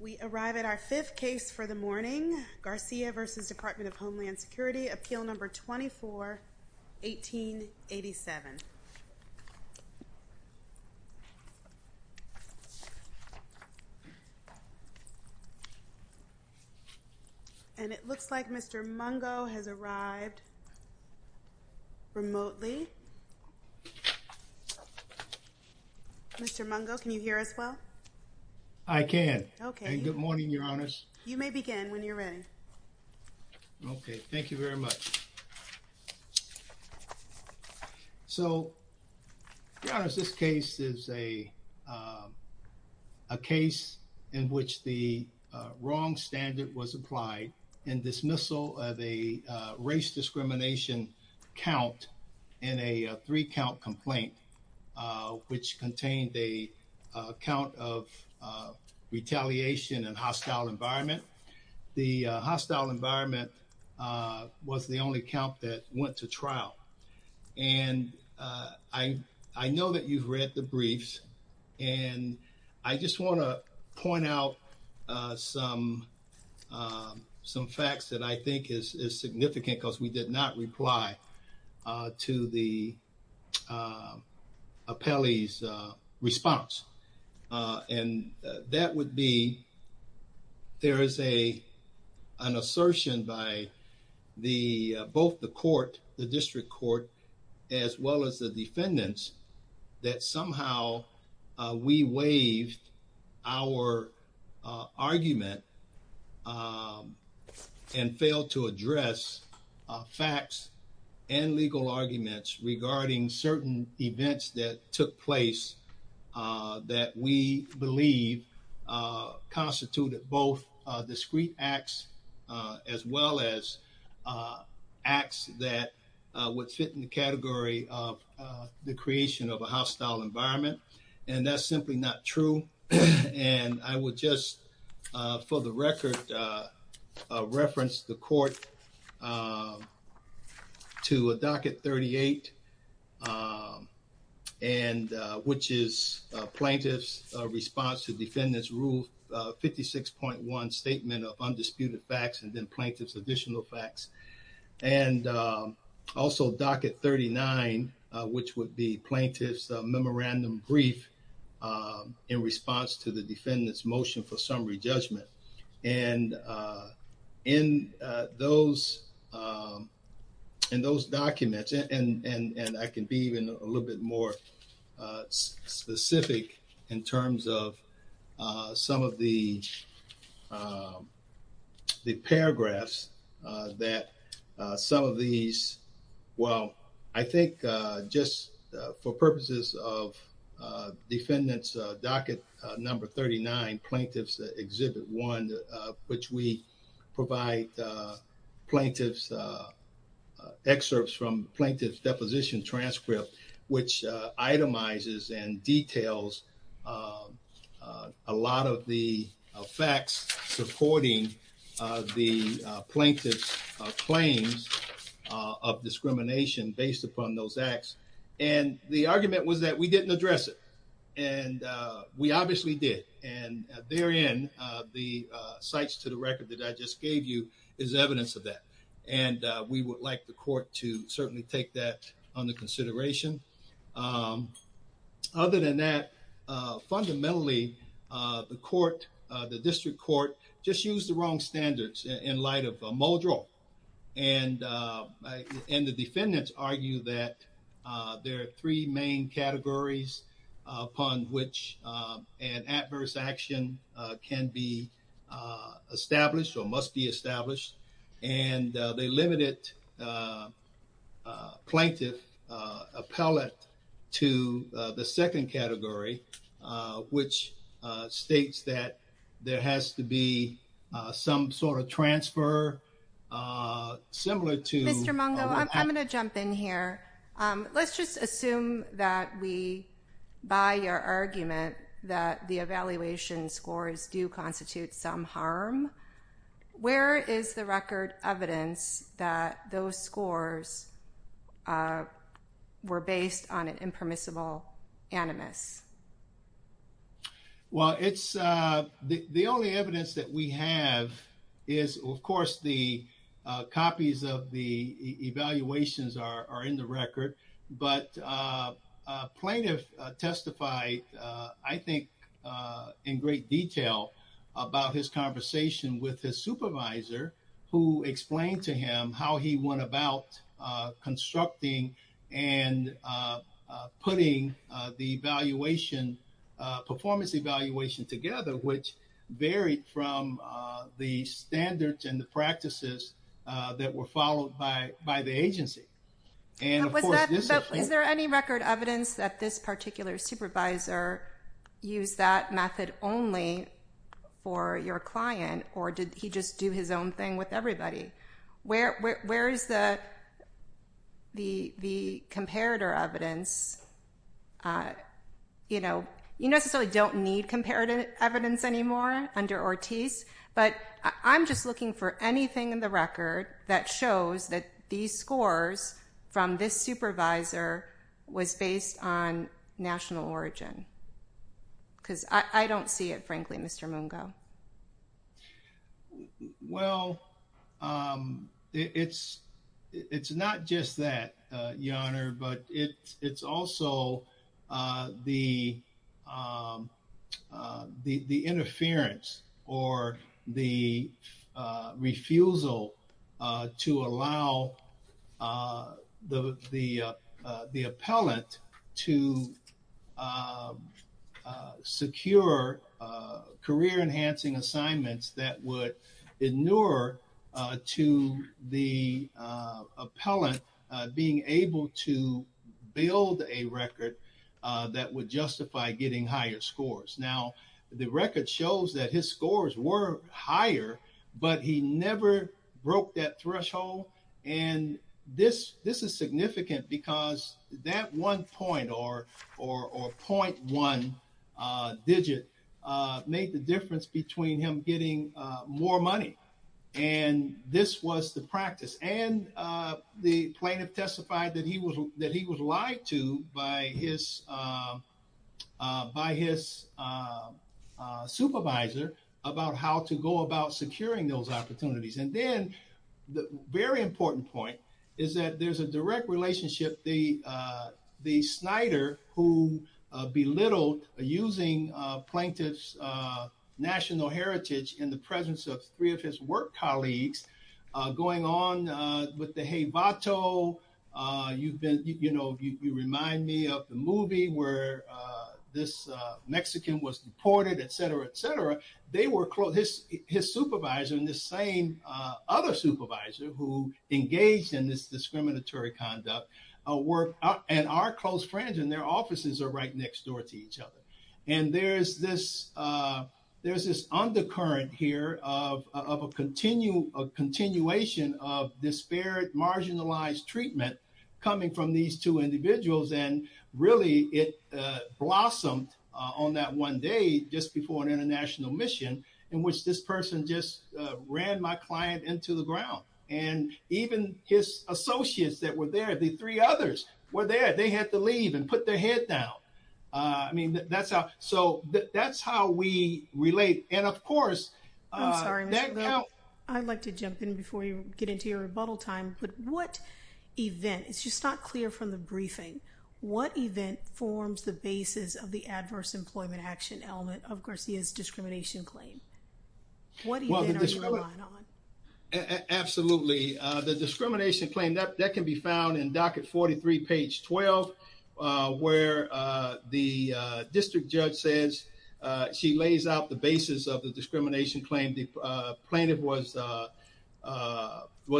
We arrive at our fifth case for the morning, Garcia v. Department of Homeland Security, appeal number 24-1887. And it looks like Mr. Mungo has arrived remotely. Mr. Mungo, can you hear us well? I can. Okay. And good morning, your honors. You may begin when you're ready. Okay, thank you very much. So, your honors, this case is a case in which the wrong standard was applied in dismissal of a race discrimination count in a three-count complaint, which contained a count of retaliation in hostile environment. The hostile environment was the only count that went to trial. And I know that you've read the briefs, and I just want to point out some facts that I think is significant because we did not reply to the appellee's response. And that would be, there is an assertion by both the court, the district court, as well as the defendants, that somehow we waived our argument and failed to address facts and legal arguments regarding certain events that took place that we believe constituted both discrete acts as well as acts that would fit in the category of the creation of a hostile environment. And that's simply not true. And I would just, for the record, reference the court to Docket 38, which is plaintiff's response to defendant's Rule 56.1 statement of undisputed facts and then plaintiff's additional facts. And also, Docket 39, which would be plaintiff's memorandum brief in response to the defendant's motion for summary judgment. And in those documents, and I can be even a little bit more specific in terms of some of the paragraphs, that some of these, well, I think just for purposes of defendant's Docket Number 39, Plaintiff's Exhibit 1, which we provide plaintiff's excerpts from plaintiff's deposition transcript, which itemizes and details a lot of the facts supporting the plaintiff's claims of discrimination based upon those acts. And the argument was that we didn't address it. And we obviously did. And therein, the cites to the record that I just gave you is evidence of that. And we would like the court to certainly take that under consideration. Other than that, fundamentally, the court, the district court, just used the wrong standards in light of Muldrell. And the defendants argue that there are three main categories upon which an adverse action can be established or must be established. And they limited plaintiff appellate to the second category, which states that there has to be some sort of transfer similar to- Mr. Mungo, I'm going to jump in here. Let's just assume that we, by your argument, that the evaluation scores do constitute some harm. Where is the record evidence that those scores were based on an impermissible animus? Well, it's the only evidence that we have is, of course, the copies of the evaluations are in the record. But plaintiff testified, I think, in great detail about his conversation with his supervisor who explained to him how he went about constructing and putting the performance evaluation together, which varied from the standards and the practices that were followed by the agency. And was there any record evidence that this particular supervisor used that method only for your client, or did he just do his own thing with everybody? Where is the comparator evidence? You necessarily don't need comparative evidence anymore under Ortiz, but I'm just looking for anything in the record that shows that these scores from this supervisor was based on national origin. Because I don't see it, frankly, Mr. Mungo. Well, it's not just that, Your Honor, but it's also the interference or the refusal to allow the appellant to secure career-enhancing assignments that would inure to the appellant being able to build a record that would justify getting higher scores. Now, the record shows that his scores were higher, but he never broke that threshold. And this is significant because that one point or .1 digit made the difference between him getting more money. And this was the practice. And the plaintiff testified that he was lied to by his supervisor about how to go about securing those opportunities. And then the very important point is that there's a direct relationship. The Snyder, who belittled using plaintiff's national heritage in the presence of three of his work colleagues, going on with the Hey, Vato. You've been, you know, you remind me of the movie where this Mexican was deported, et cetera, et cetera. They were close, his supervisor and this same other supervisor who engaged in this discriminatory conduct, and our close friends in their offices are right next door to each other. And there's this undercurrent here of a continuation of disparate, marginalized treatment coming from these two individuals. And really it blossomed on that one day, just before an international mission in which this person just ran my client into the ground. And even his associates that were there, the three others were there, they had to leave and put their head down. I mean, that's how, so that's how we relate. And of course. I'm sorry, I'd like to jump in before you get into your rebuttal time, but what event, it's just not clear from the briefing, what event forms the basis of the adverse employment action element of Garcia's discrimination claim? What event are you relying on? Absolutely. The discrimination claim that can be found in docket 43, page 12, where the district judge says, she lays out the basis of the discrimination claim. The plaintiff was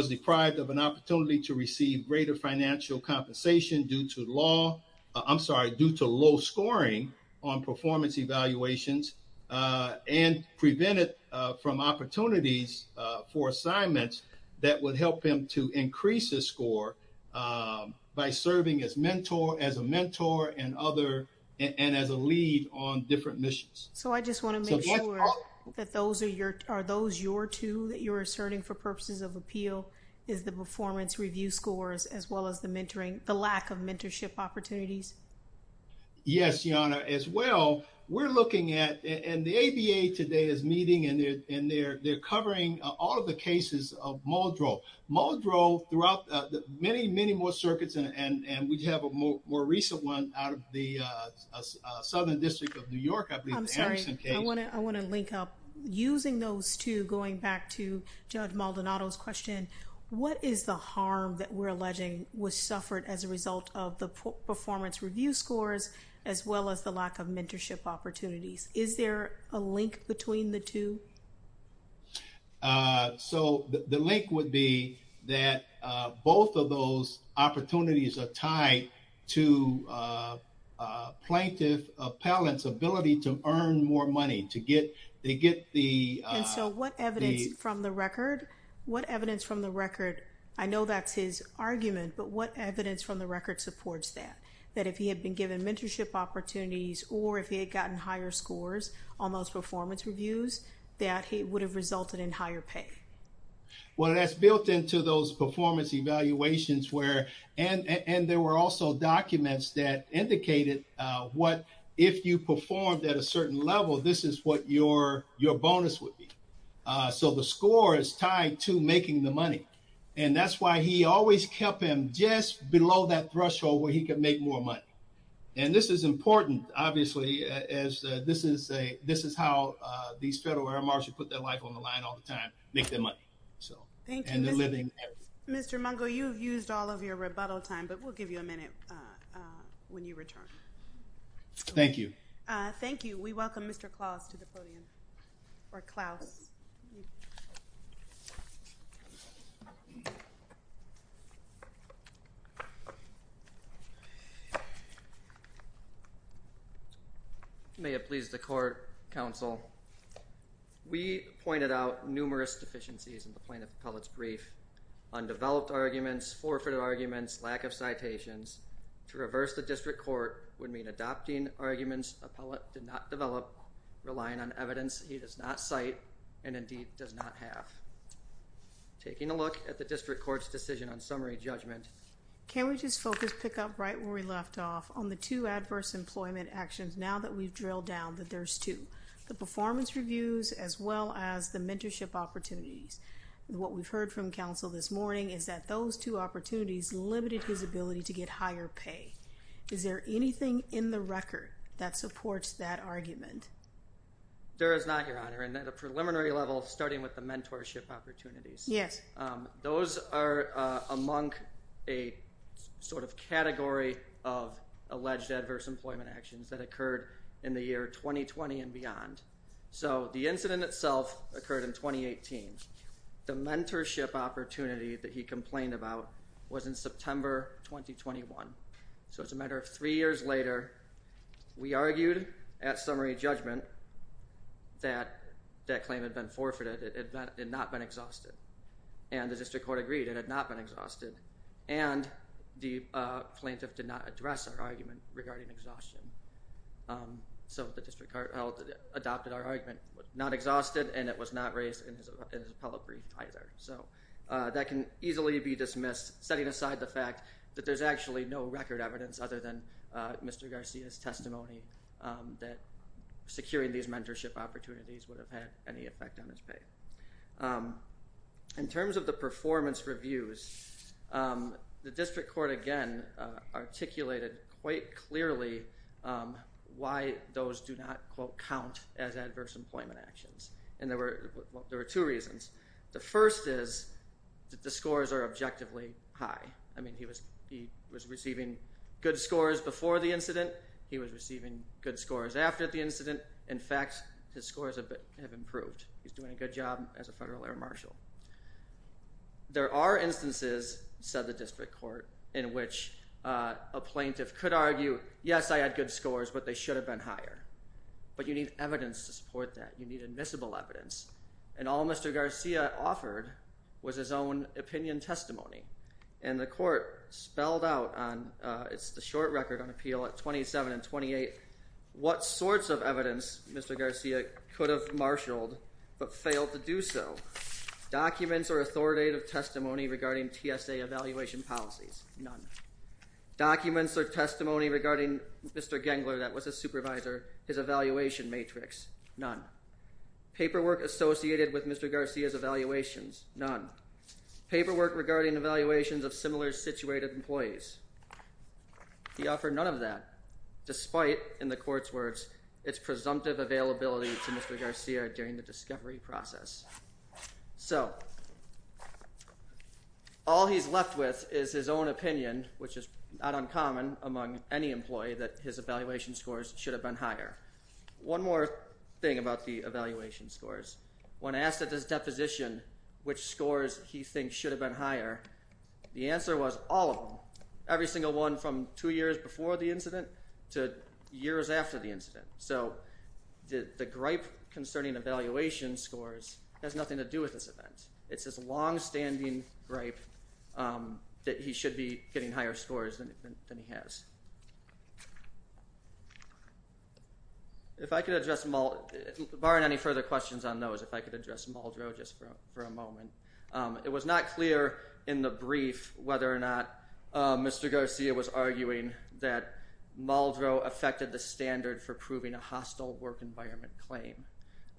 deprived of an opportunity to receive greater financial compensation due to law, I'm sorry, due to low scoring on performance evaluations and prevented from opportunities for assignments that would help him to increase his score by serving as a mentor and other, and as a lead on different missions. So I just want to make sure that those are your, are those your two that you're asserting for purposes of appeal is the performance review scores as well as the mentoring, the lack of mentorship opportunities? Yes, Your Honor. As well, we're looking at, and the ABA today is meeting and they're covering all of the cases of Muldrow. Muldrow throughout the many, many more circuits, and we'd have a more recent one out of the Southern District of New York, I believe, the Anderson case. I'm sorry, I want to link up. Using those two, going back to Judge Maldonado's question, what is the harm that we're alleging was suffered as a result of the performance review scores, as well as the lack of mentorship opportunities? Is there a link between the two? So the link would be that both of those opportunities are tied to plaintiff appellant's ability to earn more money, to get, they get the... And so what evidence from the record, what evidence from the record, I know that's his argument, but what evidence from the record supports that, that if he had been given mentorship opportunities or if he had gotten higher scores on those performance reviews, that he would have resulted in higher pay? Well, that's built into those performance evaluations where, and there were also documents that indicated what if you performed at a certain level, this is what your bonus would be. So the score is tied to making the money. And that's why he always kept him just below that threshold where he could make more money. And this is important, obviously, as this is how these federal air marshals put their life on the line all the time, make their money. So, and they're living there. Mr. Mungo, you've used all of your rebuttal time, but we'll give you a minute when you return. Thank you. Thank you. We welcome Mr. Klaus to the podium, or Klaus. May it please the court, counsel. We pointed out numerous deficiencies in the plaintiff appellate's brief, undeveloped arguments, forfeited arguments, lack of citations. To reverse the district court, adopting arguments appellate did not develop, relying on evidence he does not cite and indeed does not have. Taking a look at the district court's decision on summary judgment. Can we just focus, pick up right where we left off on the two adverse employment actions, now that we've drilled down that there's two, the performance reviews, as well as the mentorship opportunities. What we've heard from counsel this morning is that those two opportunities limited his ability to get higher pay. Is there anything in the record that supports that argument? There is not, your honor. And at a preliminary level, starting with the mentorship opportunities. Yes. Those are among a sort of category of alleged adverse employment actions that occurred in the year 2020 and beyond. So, the incident itself occurred in 2018. The mentorship opportunity that he complained about was in September 2021. So, it's a matter of three years later, we argued at summary judgment that that claim had been forfeited, it had not been exhausted, and the district court agreed it had not been exhausted, and the plaintiff did not address our argument regarding exhaustion. So, the district court adopted our argument, not exhausted, and it was not raised in his appellate brief either. So, that can easily be dismissed, setting aside the fact that there's actually no record evidence other than Mr. Garcia's testimony that securing these mentorship opportunities would have had any effect on his pay. In terms of the performance reviews, the district court again articulated quite clearly why those do not, quote, count as adverse employment actions. And there were two reasons. The first is that the scores are objectively high. I mean, he was receiving good scores before the incident, he was receiving good scores after the incident. In fact, his scores have improved. He's doing a good job as a federal air marshal. There are instances, said the district court, in which a plaintiff could argue, yes, I had good scores, but they should have been higher. But you need evidence to support that. You need invisible evidence. And all Mr. Garcia offered was his own opinion testimony. And the court spelled out on, it's the short record on appeal at 27 and 28, what sorts of evidence Mr. Garcia could have marshaled but failed to do so. Documents or authoritative testimony regarding TSA evaluation policies, none. Documents or testimony regarding Mr. Gengler that was a supervisor, his evaluation matrix, none. Paperwork associated with Mr. Garcia's evaluations, none. Paperwork regarding evaluations of similar situated employees. He offered none of that, despite, in the court's words, its presumptive availability to Mr. Garcia during the discovery process. So, all he's left with is his own opinion, which is not uncommon among any employee, that his evaluation scores should have been higher. One more thing about the evaluation scores. When asked at this deposition which scores he thinks should have been higher, the answer was all of them. Every single one from two years before the incident to years after the incident. So, the gripe concerning evaluation scores has nothing to do with this event. It's his longstanding gripe that he should be getting higher scores than he has. If I could address, barring any further questions on those, if I could address Muldrow just for a moment. It was not clear in the brief whether or not Mr. Garcia was arguing that Muldrow affected the standard for proving a hostile work environment claim.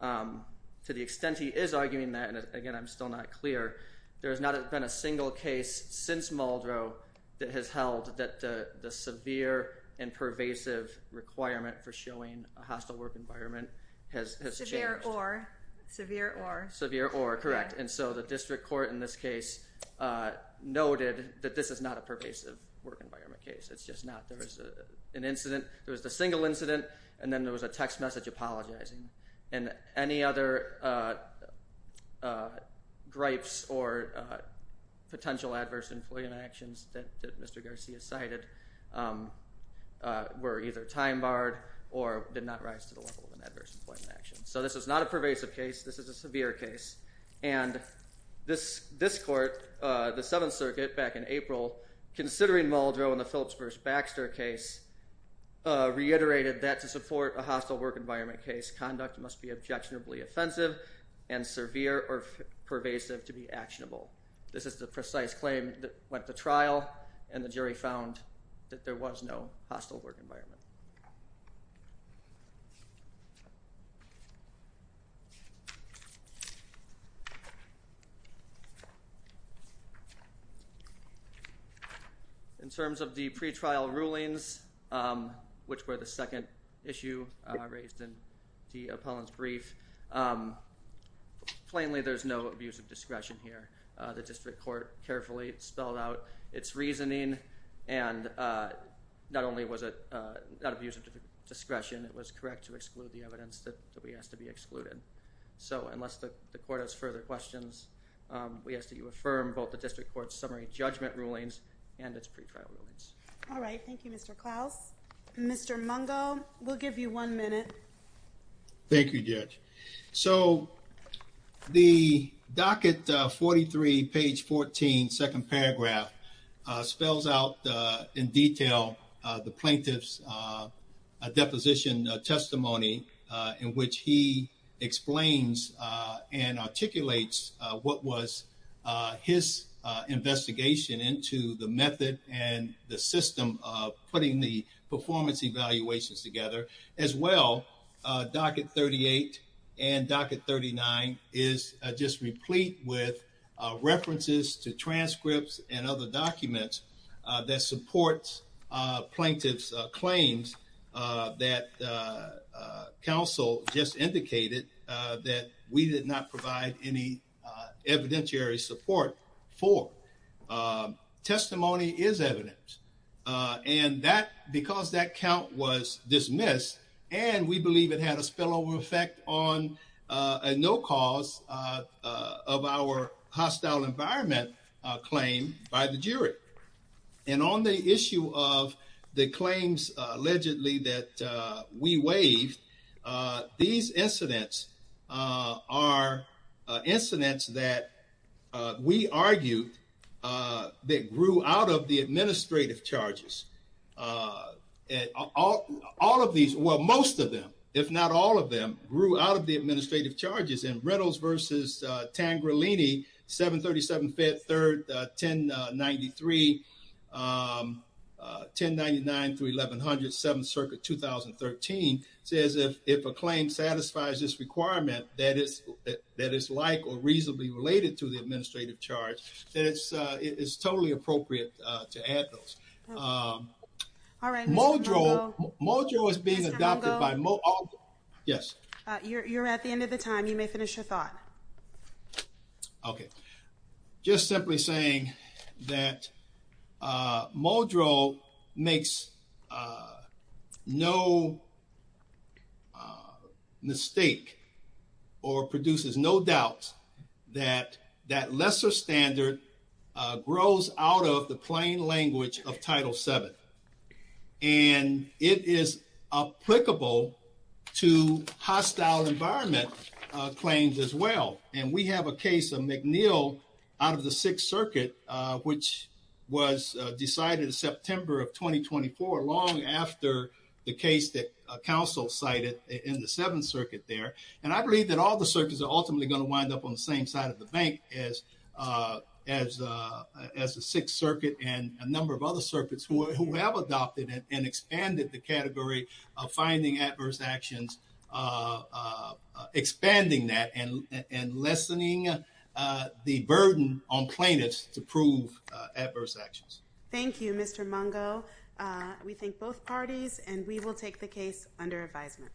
To the extent he is arguing that, and again I'm still not clear, there has not been a single case since Muldrow that has held that the severe and pervasive requirement for showing a hostile work environment has changed. Severe or. Severe or, correct. And so, the district court in this case noted that this is not a pervasive work environment case. It's just not. There was an incident. There was a single incident and then there was a text message apologizing. And any other gripes or potential adverse employment actions that Mr. Garcia cited were either time barred or did not rise to the level of an adverse employment action. So, this is not a pervasive case. This is a severe case. And this court, the Seventh Circuit back in April, considering Muldrow in the Phillips versus Baxter case reiterated that to support a hostile work environment case, conduct must be objectionably offensive and severe or pervasive to be actionable. This is the precise claim that went to trial and the jury found that there was no hostile work environment. In terms of the pretrial rulings, which were the second issue raised in the appellant's brief, plainly there's no abuse of discretion here. The district court carefully spelled out its reasoning and not only was it not abuse of discretion, it was correct to exclude the evidence that we asked to be excluded. So, unless the court has further questions, we ask that you affirm both the district court's summary judgment rulings and its pretrial rulings. All right. Thank you, Mr. Klaus. Mr. Mungo, we'll give you one minute. Thank you, Judge. So, the docket 43, page 14, second paragraph spells out in detail the plaintiff's deposition testimony in which he explains and articulates what was his investigation into the method and the system of putting the performance evaluations together, as well docket 38 and docket 39 is just replete with references to transcripts and other documents that supports plaintiff's claims that counsel just indicated that we did not provide any evidentiary support for. Testimony is evidence and that because that count was dismissed and we believe it had a spillover effect on a no cause of our hostile environment claim by the jury. And on the issue of the claims allegedly that we waived, these incidents are incidents that we argued that grew out of the administrative charges. All of these, well, most of them, if not all of them, grew out of the administrative charges in Reynolds versus Tangrelini, 737-5-3-1093, 1099-1100, 7th Circuit, 2013, says if a claim satisfies this requirement that is like or reasonably related to the administrative charge, it's totally appropriate to add those. All right, Mr. Mungo. Mojo is being adopted by Mojo. Yes. You're at the end of the time. You may finish your thought. Okay. Just simply saying that Mojo makes no mistake or produces no doubt that that lesser standard grows out of the plain language of Title VII. And it is applicable to hostile environment claims as well. And we have a case of McNeil out of the 6th Circuit, which was decided in September of 2024, long after the case that counsel cited in the 7th Circuit there. And I believe that all the circuits are ultimately going to wind up on the same side of the bank as the 6th Circuit and a number of other circuits who have adopted and expanded the category of finding adverse actions, expanding that and lessening the burden on plaintiffs to prove adverse actions. Thank you, Mr. Mungo. We thank both parties and we will take the case under advisement.